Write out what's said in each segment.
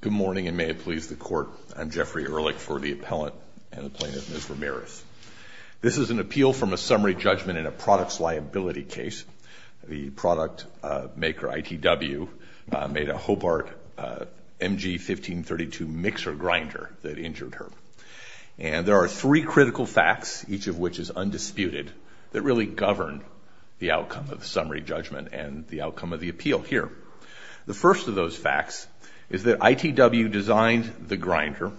Good morning, and may it please the court. I'm Jeffrey Ehrlich for the appellant and the plaintiff, Ms. Ramirez. This is an appeal from a summary judgment in a products liability case. The product maker, ITW, made a Hobart MG 1532 mixer grinder that injured her. And there are three critical facts, each of which is undisputed, that really govern the outcome of the summary judgment and the outcome of the appeal here. The first of those facts is that ITW designed the grinder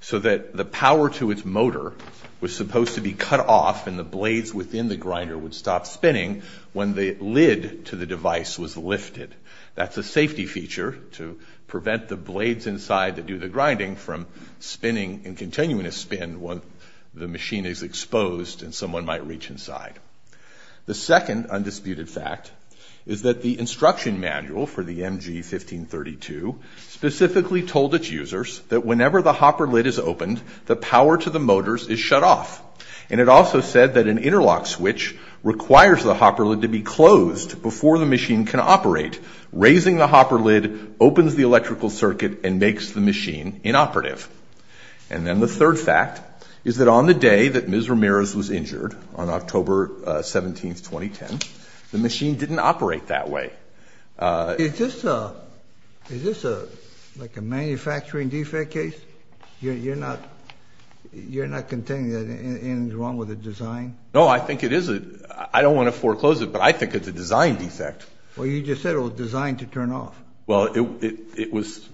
so that the power to its motor was supposed to be cut off and the blades within the grinder would stop spinning when the lid to the device was lifted. That's a safety feature to prevent the blades inside that do the grinding from spinning and continuing to spin when the machine is exposed and someone might reach inside. The second undisputed fact is that the instruction manual for the MG 1532 specifically told its users that whenever the hopper lid is opened, the power to the motors is shut off. And it also said that an interlock switch requires the hopper lid to be closed before the machine can operate. Raising the hopper lid opens the electrical circuit and makes the machine inoperative. And then the third fact is that on the day that Ms. Ramirez was injured, on October 17, 2010, the machine didn't operate that way. Is this like a manufacturing defect case? You're not contending that anything's wrong with the design? No, I think it is. I don't want to foreclose it, but I think it's a design defect. Well, you just said it was designed to turn off. Well, it was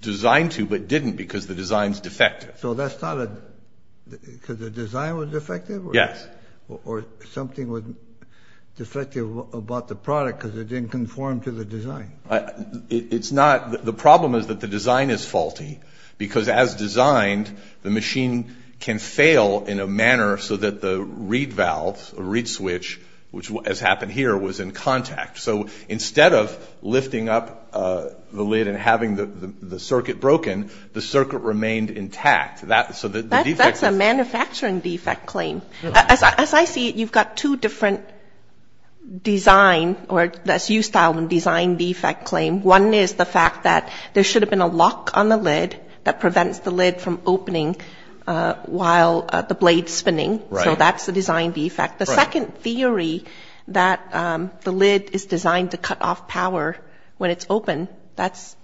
designed to but didn't because the design's defective. So that's not a – because the design was defective? Yes. Or something was defective about the product because it didn't conform to the design? It's not – the problem is that the design is faulty because as designed, the machine can fail in a manner so that the reed valve or reed switch, which has happened here, was in contact. So instead of lifting up the lid and having the circuit broken, the circuit remained intact. So the defect was – That's a manufacturing defect claim. As I see it, you've got two different design – or that's U-style design defect claim. One is the fact that there should have been a lock on the lid that prevents the lid from opening while the blade's spinning. Right. So that's the design defect. The second theory that the lid is designed to cut off power when it's open, that's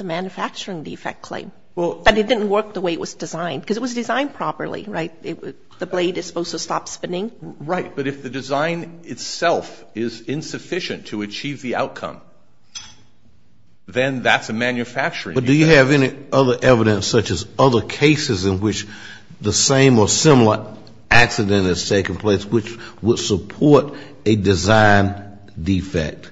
a manufacturing defect claim. But it didn't work the way it was designed because it was designed properly, right? The blade is supposed to stop spinning. Right. But if the design itself is insufficient to achieve the outcome, then that's a manufacturing defect. But do you have any other evidence such as other cases in which the same or similar accident has taken place, which would support a design defect?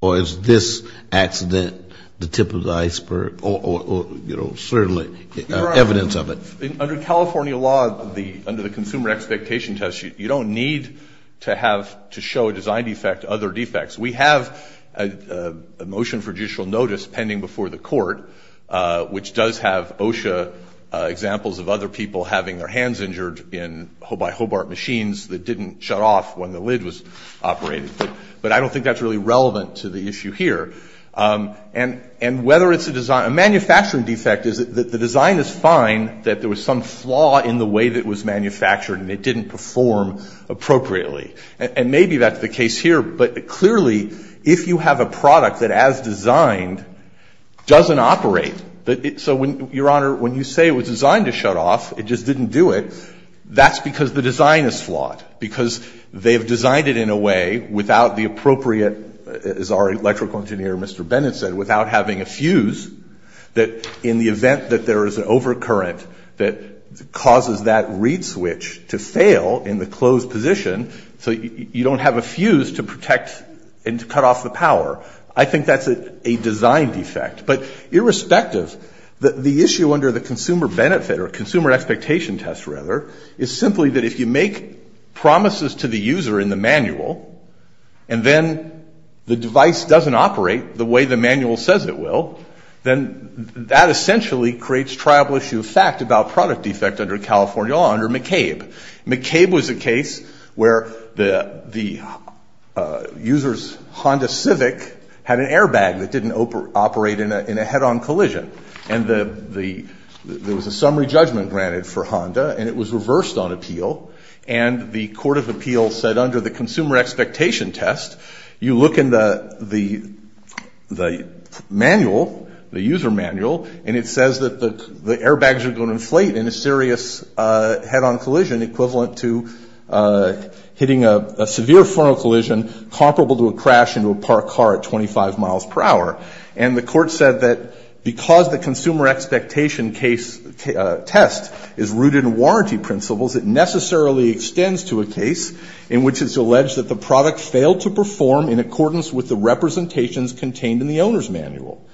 Or is this accident the tip of the iceberg or, you know, certainly evidence of it? Under California law, under the Consumer Expectation Test, you don't need to have to show a design defect other defects. We have a motion for judicial notice pending before the court, which does have OSHA examples of other people having their hands injured by Hobart machines that didn't shut off when the lid was operated. But I don't think that's really relevant to the issue here. And whether it's a design – a manufacturing defect is that the design is fine, that there was some flaw in the way that it was manufactured and it didn't perform appropriately. And maybe that's the case here. But clearly, if you have a product that, as designed, doesn't operate – so, Your Honor, when you say it was designed to shut off, it just didn't do it, that's because the design is flawed, because they've designed it in a way without the appropriate, as our electrical engineer, Mr. Bennett, said, without having a fuse that, in the event that there is an overcurrent that causes that reed switch to fail in the closed position, so you don't have a fuse to protect and to cut off the power. I think that's a design defect. But irrespective, the issue under the consumer benefit, or consumer expectation test, rather, is simply that if you make promises to the user in the manual, and then the device doesn't operate the way the manual says it will, then that essentially creates triable issue of fact about product defect under California law, under McCabe. McCabe was a case where the user's Honda Civic had an airbag that didn't operate in a head-on collision. And there was a summary judgment granted for Honda, and it was reversed on appeal. And the court of appeals said, under the consumer expectation test, you look in the manual, the user manual, and it says that the airbags are going to inflate in a serious head-on collision equivalent to hitting a severe frontal collision comparable to a crash into a parked car at 25 miles per hour. And the court said that because the consumer expectation test is rooted in warranty principles, it necessarily extends to a case in which it's alleged that the product failed to perform in accordance with the representations contained in the owner's manual.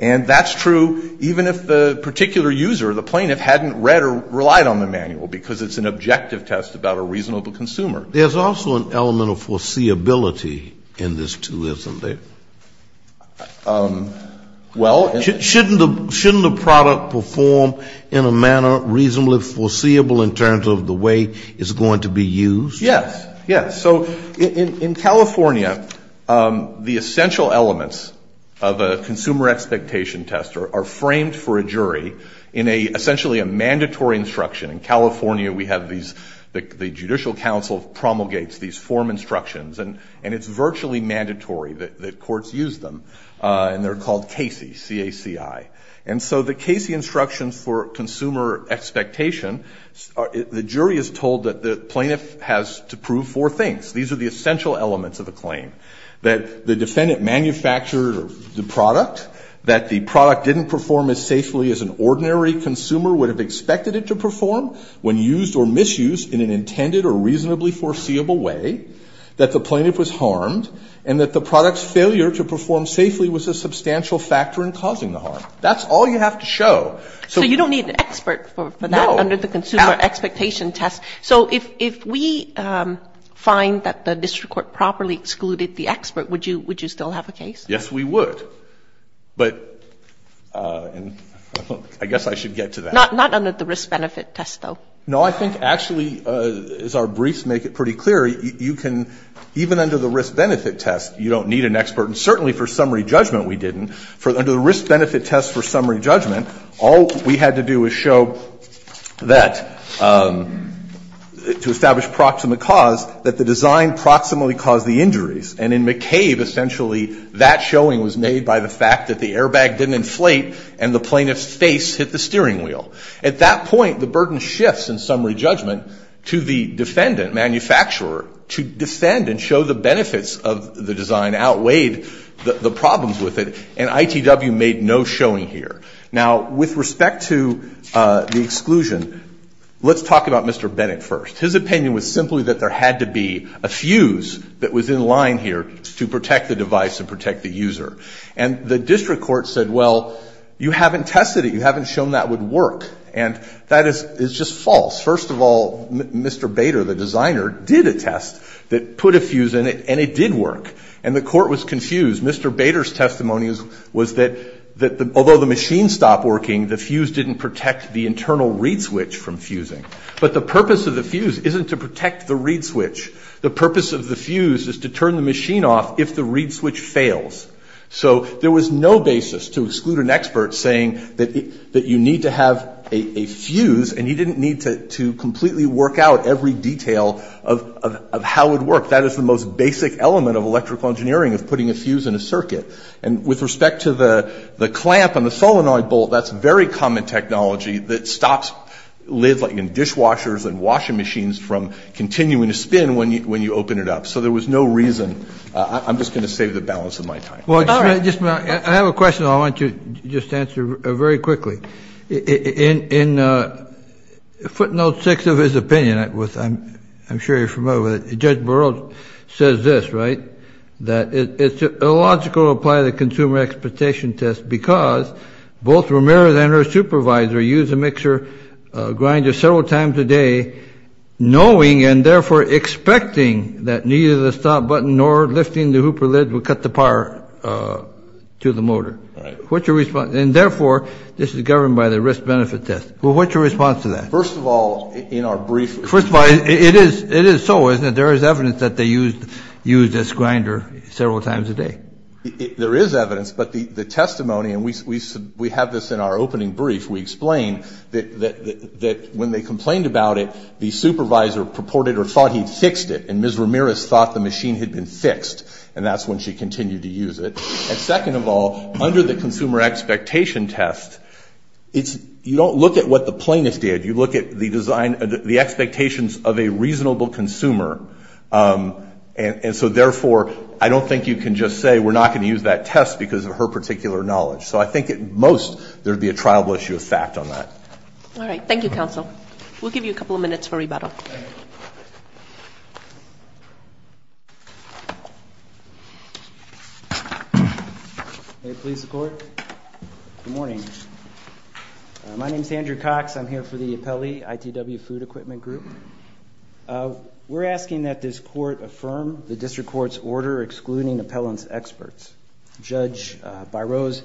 And that's true even if the particular user, the plaintiff, hadn't read or relied on the manual because it's an objective test about a reasonable consumer. There's also an element of foreseeability in this, too, isn't there? Well, isn't it? Shouldn't the product perform in a manner reasonably foreseeable in terms of the way it's going to be used? Yes. Yes. So in California, the essential elements of a consumer expectation test are framed for a jury in essentially a mandatory instruction. In California, we have the Judicial Council promulgates these form instructions, and it's virtually mandatory that courts use them, and they're called CACI, C-A-C-I. And so the CACI instructions for consumer expectation, the jury is told that the plaintiff has to prove four things. These are the essential elements of the claim. That the defendant manufactured the product. That the product didn't perform as safely as an ordinary consumer would have expected it to perform when used or misused in an intended or reasonably foreseeable way. That the plaintiff was harmed. And that the product's failure to perform safely was a substantial factor in causing the harm. That's all you have to show. So you don't need an expert for that under the consumer expectation test. So if we find that the district court properly excluded the expert, would you still have a case? Yes, we would. But I guess I should get to that. Not under the risk-benefit test, though. No, I think actually, as our briefs make it pretty clear, you can, even under the risk-benefit test, you don't need an expert. And certainly for summary judgment, we didn't. Under the risk-benefit test for summary judgment, all we had to do was show that, to establish proximate cause, that the design proximately caused the injuries. And in McCabe, essentially, that showing was made by the fact that the airbag didn't inflate and the plaintiff's face hit the steering wheel. At that point, the burden shifts in summary judgment to the defendant, manufacturer, to defend and show the benefits of the design outweighed the problems with it. And ITW made no showing here. Now, with respect to the exclusion, let's talk about Mr. Bennett first. His opinion was simply that there had to be a fuse that was in line here to protect the device and protect the user. And the district court said, well, you haven't tested it. You haven't shown that would work. And that is just false. First of all, Mr. Bader, the designer, did a test that put a fuse in it, and it did work. And the court was confused. Mr. Bader's testimony was that although the machine stopped working, the fuse didn't protect the internal reed switch from fusing. But the purpose of the fuse isn't to protect the reed switch. The purpose of the fuse is to turn the machine off if the reed switch fails. So there was no basis to exclude an expert saying that you need to have a fuse, and you didn't need to completely work out every detail of how it would work. That is the most basic element of electrical engineering is putting a fuse in a circuit. And with respect to the clamp and the solenoid bolt, that's very common technology that stops lids like in dishwashers and washing machines from continuing to spin when you open it up. So there was no reason. I'm just going to save the balance of my time. All right. I have a question I want to just answer very quickly. In footnote 6 of his opinion, I'm sure you're familiar with it, Judge Burroughs says this, right, that it's illogical to apply the consumer expectation test because both Ramirez and her supervisor used a mixer grinder several times a day, knowing and therefore expecting that neither the stop button nor lifting the hooper lid would cut the power to the motor. And, therefore, this is governed by the risk-benefit test. Well, what's your response to that? First of all, in our brief, First of all, it is so, isn't it? There is evidence that they used this grinder several times a day. There is evidence, but the testimony, and we have this in our opening brief, we explain that when they complained about it, the supervisor purported or thought he'd fixed it, and Ms. Ramirez thought the machine had been fixed, and that's when she continued to use it. And, second of all, under the consumer expectation test, you don't look at what the plaintiff did. You look at the design, the expectations of a reasonable consumer, and so, therefore, I don't think you can just say we're not going to use that test because of her particular knowledge. So I think at most there would be a triable issue of fact on that. All right. Thank you, counsel. We'll give you a couple of minutes for rebuttal. May it please the Court? Good morning. My name is Andrew Cox. I'm here for the Appellee ITW Food Equipment Group. We're asking that this Court affirm the district court's order excluding appellant's experts. Judge Biro's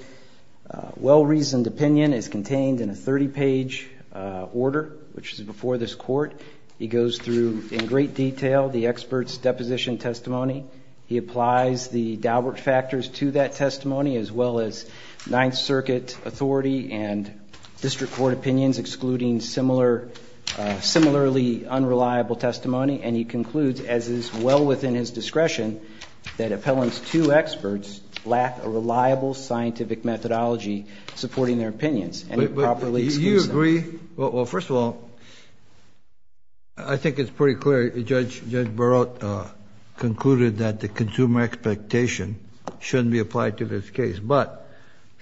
well-reasoned opinion is contained in a 30-page order, which is before this Court. He goes through in great detail the expert's deposition testimony. He applies the Daubert factors to that testimony, as well as Ninth Circuit authority and district court opinions, excluding similarly unreliable testimony. And he concludes, as is well within his discretion, that appellant's two experts lack a reliable scientific methodology supporting their opinions. And he properly excludes them. Do you agree? Well, first of all, I think it's pretty clear. Judge Biro concluded that the consumer expectation shouldn't be applied to this case. But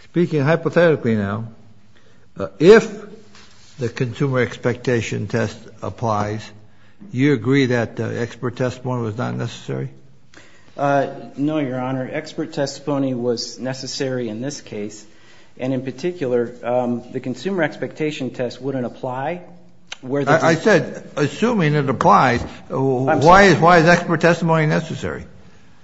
speaking hypothetically now, if the consumer expectation test applies, you agree that expert testimony was not necessary? No, Your Honor. Expert testimony was necessary in this case. And in particular, the consumer expectation test wouldn't apply where the district assuming it applies, why is expert testimony necessary?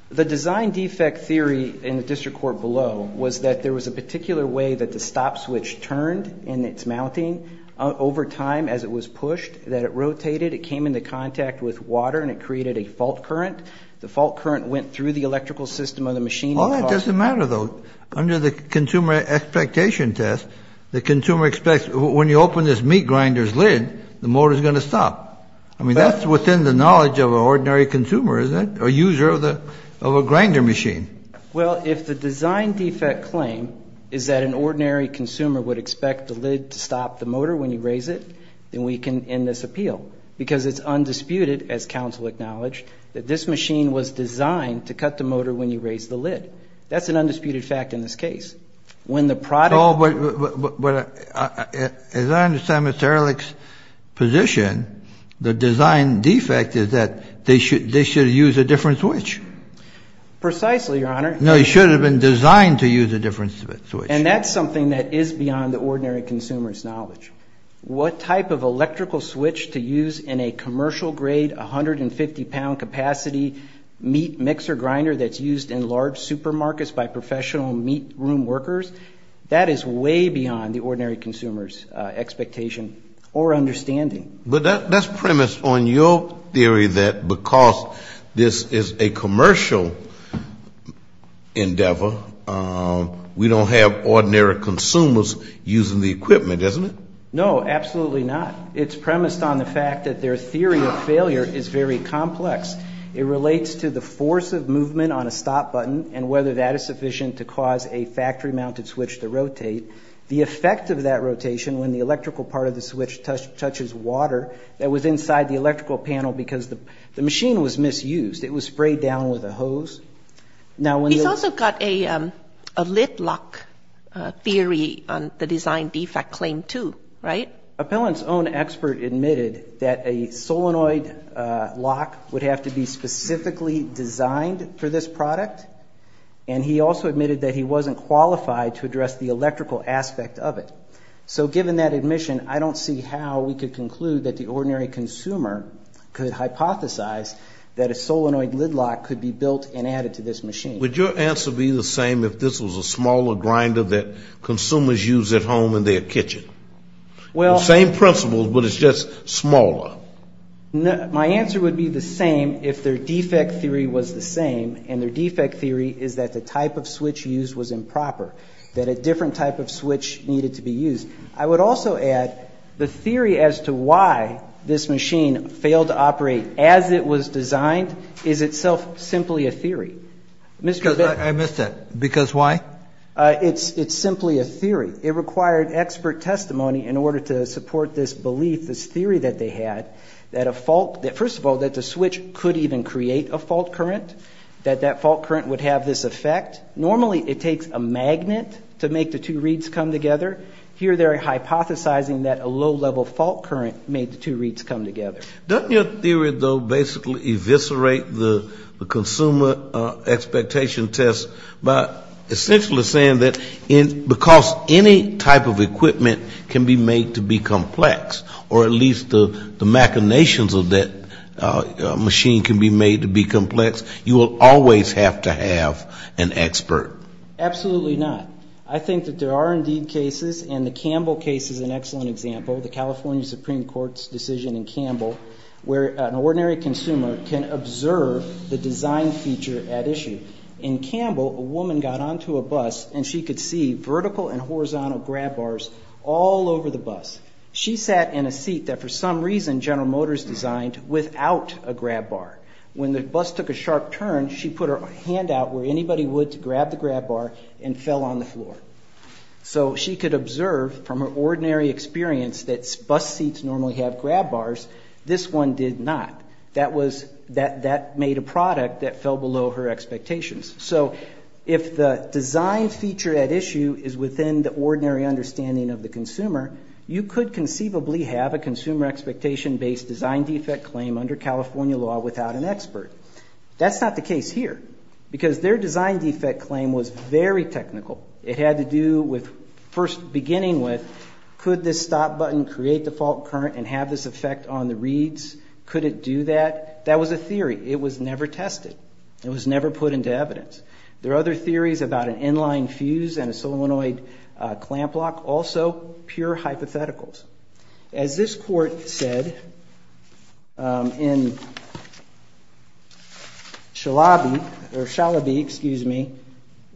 The design defect theory in the district court below was that there was a particular way that the stop switch turned in its mounting over time as it was pushed, that it rotated, it came into contact with water, and it created a fault current. The fault current went through the electrical system of the machine. Well, that doesn't matter, though. Under the consumer expectation test, the consumer expects when you open this meat grinder's lid, the motor's going to stop. I mean, that's within the knowledge of an ordinary consumer, isn't it? A user of a grinder machine. Well, if the design defect claim is that an ordinary consumer would expect the lid to stop the motor when you raise it, then we can end this appeal. Because it's undisputed, as counsel acknowledged, that this machine was designed to cut the motor when you raise the lid. That's an undisputed fact in this case. Oh, but as I understand Mr. Ehrlich's position, the design defect is that they should have used a different switch. Precisely, Your Honor. No, it should have been designed to use a different switch. And that's something that is beyond the ordinary consumer's knowledge. What type of electrical switch to use in a commercial-grade 150-pound capacity meat mixer grinder that's used in large supermarkets by professional meat room workers, that is way beyond the ordinary consumer's expectation or understanding. But that's premised on your theory that because this is a commercial endeavor, we don't have ordinary consumers using the equipment, isn't it? No, absolutely not. It's premised on the fact that their theory of failure is very complex. It relates to the force of movement on a stop button and whether that is sufficient to cause a factory-mounted switch to rotate. The effect of that rotation when the electrical part of the switch touches water that was inside the electrical panel because the machine was misused. It was sprayed down with a hose. He's also got a lid lock theory on the design defect claim too, right? Appellant's own expert admitted that a solenoid lock would have to be specifically designed for this product. And he also admitted that he wasn't qualified to address the electrical aspect of it. So given that admission, I don't see how we could conclude that the ordinary consumer could hypothesize that a solenoid lid lock could be built and added to this machine. Would your answer be the same if this was a smaller grinder that consumers use at home in their kitchen? The same principles, but it's just smaller. My answer would be the same if their defect theory was the same and their defect theory is that the type of switch used was improper, that a different type of switch needed to be used. I would also add the theory as to why this machine failed to operate as it was designed is itself simply a theory. I missed that. Because why? It's simply a theory. It required expert testimony in order to support this belief, this theory that they had, that a fault, first of all, that the switch could even create a fault current, that that fault current would have this effect. Normally it takes a magnet to make the two reeds come together. Here they're hypothesizing that a low-level fault current made the two reeds come together. Doesn't your theory, though, basically eviscerate the consumer expectation test by essentially saying that because any type of equipment can be made to be complex, or at least the machinations of that machine can be made to be complex, you will always have to have an expert? Absolutely not. I think that there are indeed cases, and the Campbell case is an excellent example, the California Supreme Court's decision in Campbell, where an ordinary consumer can observe the design feature at issue. In Campbell, a woman got onto a bus, and she could see vertical and horizontal grab bars all over the bus. She sat in a seat that for some reason General Motors designed without a grab bar. When the bus took a sharp turn, she put her hand out where anybody would to grab the grab bar and fell on the floor. So she could observe from her ordinary experience that bus seats normally have grab bars. This one did not. That made a product that fell below her expectations. So if the design feature at issue is within the ordinary understanding of the consumer, you could conceivably have a consumer expectation-based design defect claim under California law without an expert. That's not the case here because their design defect claim was very technical. It had to do with first beginning with could this stop button create the fault current and have this effect on the reeds? Could it do that? That was a theory. It was never tested. It was never put into evidence. There are other theories about an inline fuse and a solenoid clamp lock, also pure hypotheticals. As this court said in Shalabi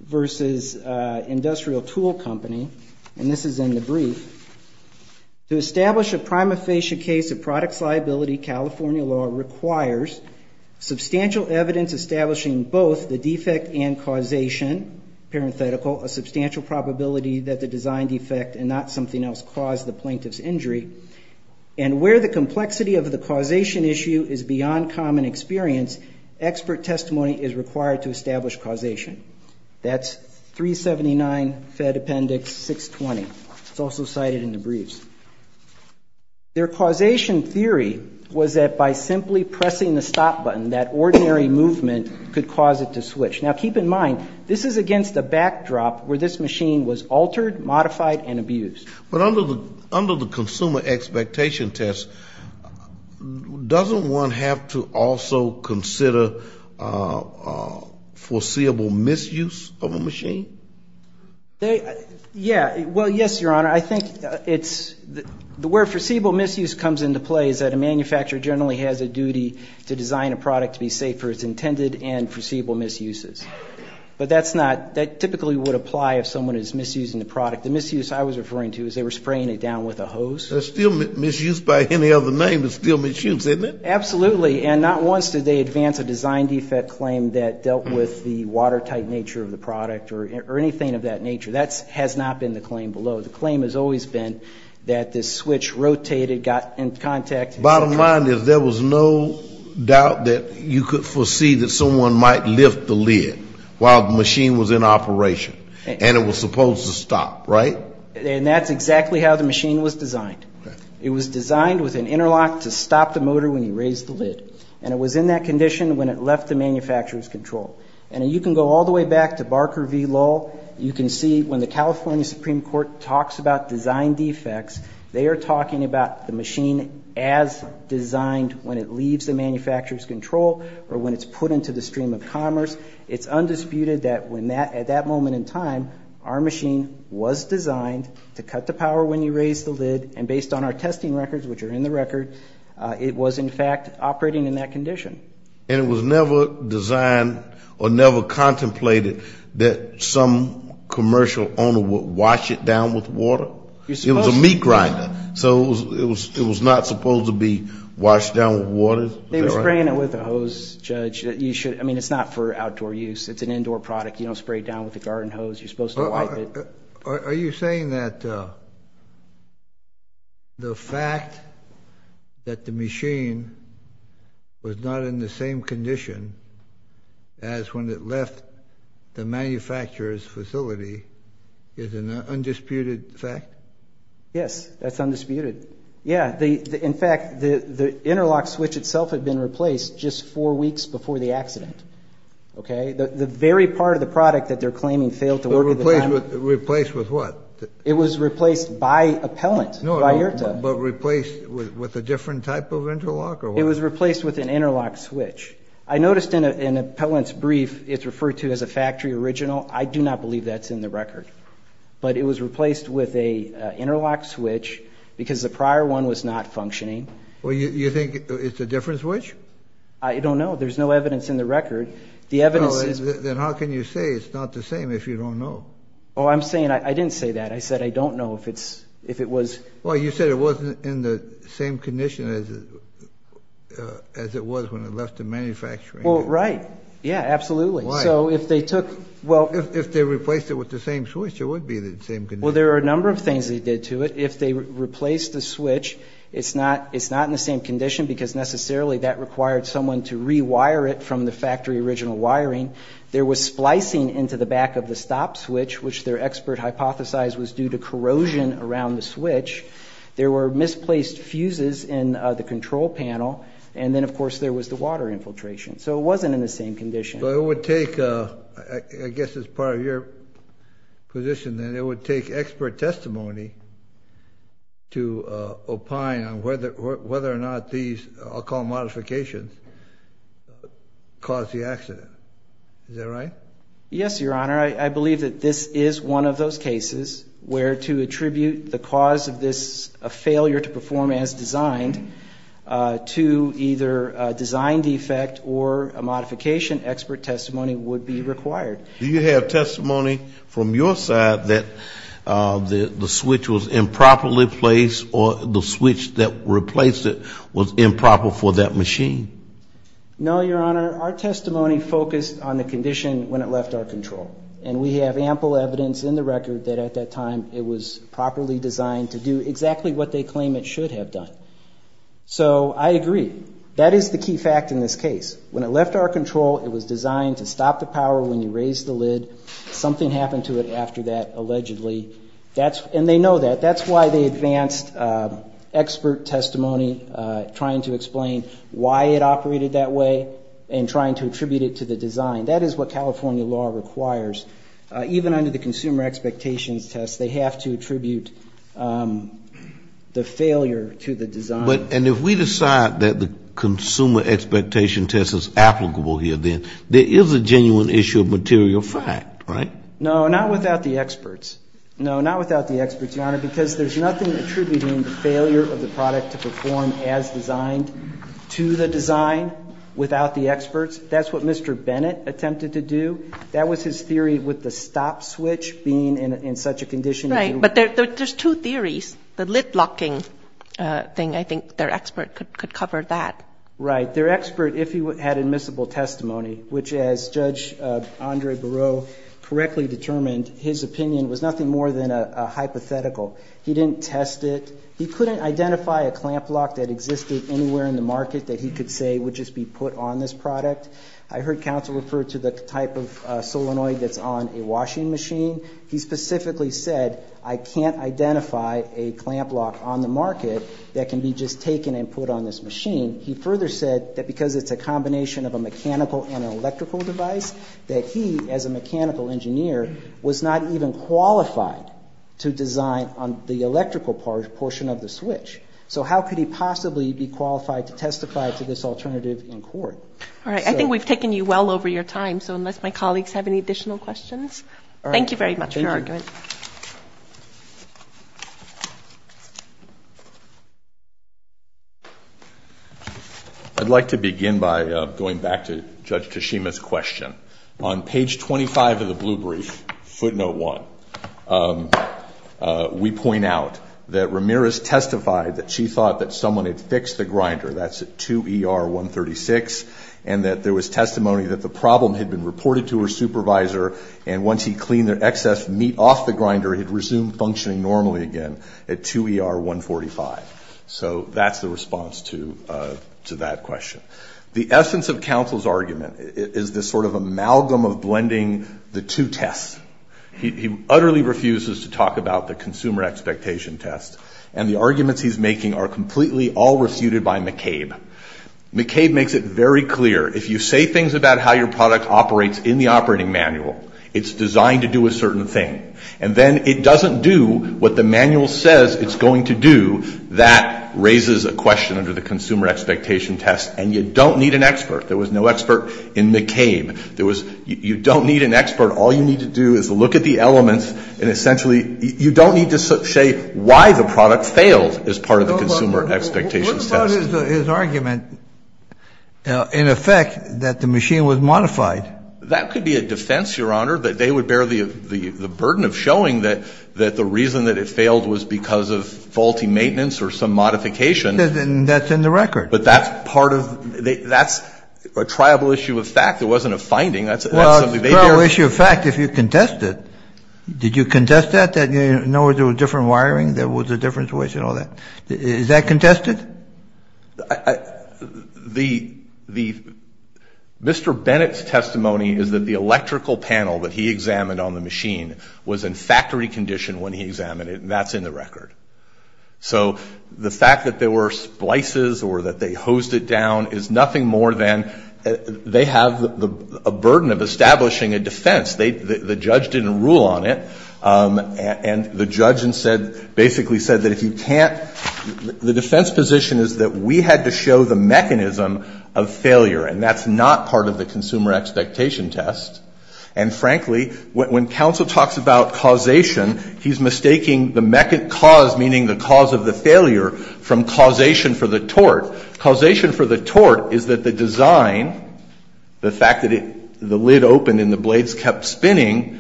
versus Industrial Tool Company, and this is in the brief, to establish a prima facie case of product liability, California law requires substantial evidence establishing both the defect and causation, parenthetical, a substantial probability that the design defect and not something else caused the plaintiff's injury, and where the complexity of the causation issue is beyond common experience, expert testimony is required to establish causation. That's 379 Fed Appendix 620. It's also cited in the briefs. Their causation theory was that by simply pressing the stop button, that ordinary movement could cause it to switch. Now, keep in mind, this is against a backdrop where this machine was altered, modified, and abused. But under the consumer expectation test, doesn't one have to also consider foreseeable misuse of a machine? Yeah. Well, yes, Your Honor. I think it's where foreseeable misuse comes into play is that a manufacturer generally has a duty to design a product to be safe for its intended and foreseeable misuses. But that's not, that typically would apply if someone is misusing the product. The misuse I was referring to is they were spraying it down with a hose. It's still misuse by any other name. It's still misuse, isn't it? Absolutely. And not once did they advance a design defect claim that dealt with the watertight nature of the product or anything of that nature. That has not been the claim below. The claim has always been that the switch rotated, got in contact. Bottom line is there was no doubt that you could foresee that someone might lift the lid while the machine was in operation. And it was supposed to stop, right? And that's exactly how the machine was designed. It was designed with an interlock to stop the motor when you raised the lid. And it was in that condition when it left the manufacturer's control. And you can go all the way back to Barker v. Lull. You can see when the California Supreme Court talks about design defects, they are talking about the machine as designed when it leaves the manufacturer's control or when it's put into the stream of commerce. It's undisputed that at that moment in time, our machine was designed to cut to power when you raised the lid. And based on our testing records, which are in the record, it was, in fact, operating in that condition. And it was never designed or never contemplated that some commercial owner would wash it down with water? It was a meat grinder. So it was not supposed to be washed down with water? They were spraying it with a hose, Judge. I mean, it's not for outdoor use. It's an indoor product. You don't spray it down with a garden hose. You're supposed to wipe it. Are you saying that the fact that the machine was not in the same condition as when it left the manufacturer's facility is an undisputed fact? Yes, that's undisputed. In fact, the interlock switch itself had been replaced just four weeks before the accident. The very part of the product that they're claiming failed to work at the time. Replaced with what? It was replaced by a pellant, by IRTA. But replaced with a different type of interlock or what? It was replaced with an interlock switch. I noticed in a pellant's brief it's referred to as a factory original. I do not believe that's in the record. But it was replaced with an interlock switch because the prior one was not functioning. Well, you think it's a different switch? I don't know. There's no evidence in the record. No, then how can you say it's not the same if you don't know? Oh, I'm saying I didn't say that. I said I don't know if it was. Well, you said it wasn't in the same condition as it was when it left the manufacturer. Well, right. Yeah, absolutely. Why? If they replaced it with the same switch, it would be in the same condition. Well, there are a number of things they did to it. If they replaced the switch, it's not in the same condition because necessarily that required someone to rewire it from the factory original wiring. There was splicing into the back of the stop switch, which their expert hypothesized was due to corrosion around the switch. There were misplaced fuses in the control panel. And then, of course, there was the water infiltration. So it wasn't in the same condition. So it would take, I guess it's part of your position then, it would take expert testimony to opine on whether or not these, I'll call them modifications, caused the accident. Is that right? Yes, Your Honor. I believe that this is one of those cases where to attribute the cause of this failure to perform as designed to either a design defect or a modification, expert testimony would be required. Do you have testimony from your side that the switch was improperly placed or the switch that replaced it was improper for that machine? No, Your Honor. Our testimony focused on the condition when it left our control. And we have ample evidence in the record that at that time it was properly designed to do exactly what they claim it should have done. So I agree. That is the key fact in this case. When it left our control, it was designed to stop the power when you raised the lid. Something happened to it after that, allegedly. And they know that. That's why they advanced expert testimony trying to explain why it operated that way and trying to attribute it to the design. That is what California law requires. Even under the consumer expectations test, they have to attribute the failure to the design. And if we decide that the consumer expectation test is applicable here then, there is a genuine issue of material fact, right? No, not without the experts. No, not without the experts, Your Honor, because there's nothing attributing the failure of the product to perform as designed to the design without the experts. That's what Mr. Bennett attempted to do. That was his theory with the stop switch being in such a condition. Right, but there's two theories. The lid locking thing, I think their expert could cover that. Right. Their expert, if he had admissible testimony, which as Judge Andre Barreau correctly determined, his opinion was nothing more than a hypothetical. He didn't test it. He couldn't identify a clamp lock that existed anywhere in the market that he could say would just be put on this product. I heard counsel refer to the type of solenoid that's on a washing machine. He specifically said, I can't identify a clamp lock on the market that can be just taken and put on this machine. He further said that because it's a combination of a mechanical and an electrical device, that he, as a mechanical engineer, was not even qualified to design on the electrical portion of the switch. So how could he possibly be qualified to testify to this alternative in court? All right. I think we've taken you well over your time, so unless my colleagues have any additional questions. Thank you very much for your argument. Thank you. I'd like to begin by going back to Judge Tashima's question. On page 25 of the blue brief, footnote one, we point out that Ramirez testified that she thought that someone had fixed the grinder. That's at 2ER136, and that there was testimony that the problem had been reported to her supervisor, and once he cleaned the excess meat off the grinder, it had resumed functioning normally again at 2ER145. So that's the response to that question. The essence of counsel's argument is this sort of amalgam of blending the two tests. He utterly refuses to talk about the consumer expectation test, and the arguments he's making are completely all refuted by McCabe. McCabe makes it very clear. If you say things about how your product operates in the operating manual, it's designed to do a certain thing, and then it doesn't do what the manual says it's going to do, that raises a question under the consumer expectation test, and you don't need an expert. There was no expert in McCabe. You don't need an expert. All you need to do is look at the elements, and essentially you don't need to say why the product failed as part of the consumer expectation test. Kennedy, what about his argument in effect that the machine was modified? That could be a defense, Your Honor, that they would bear the burden of showing that the reason that it failed was because of faulty maintenance or some modification. That's in the record. But that's part of the ‑‑ that's a triable issue of fact. It wasn't a finding. That's something they bear. It's a triable issue of fact if you contest it. Did you contest that, that you know there was different wiring, there was a different switch and all that? Is that contested? The ‑‑ Mr. Bennett's testimony is that the electrical panel that he examined on the machine was in factory condition when he examined it, and that's in the record. So the fact that there were splices or that they hosed it down is nothing more than they have a burden of establishing a defense. The judge didn't rule on it, and the judge basically said that if you can't ‑‑ the defense position is that we had to show the mechanism of failure, and that's not part of the consumer expectation test. And frankly, when counsel talks about causation, he's mistaking the cause, meaning the cause of the failure, from causation for the tort. Causation for the tort is that the design, the fact that the lid opened and the blades kept spinning,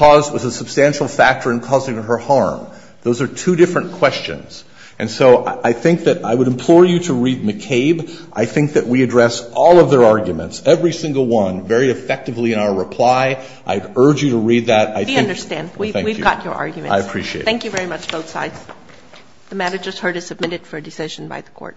was a substantial factor in causing her harm. Those are two different questions. And so I think that I would implore you to read McCabe. I think that we address all of their arguments, every single one, very effectively in our reply. I urge you to read that. I think ‑‑ We understand. We've got your arguments. I appreciate it. Thank you very much, both sides. The matter just heard is submitted for decision by the Court.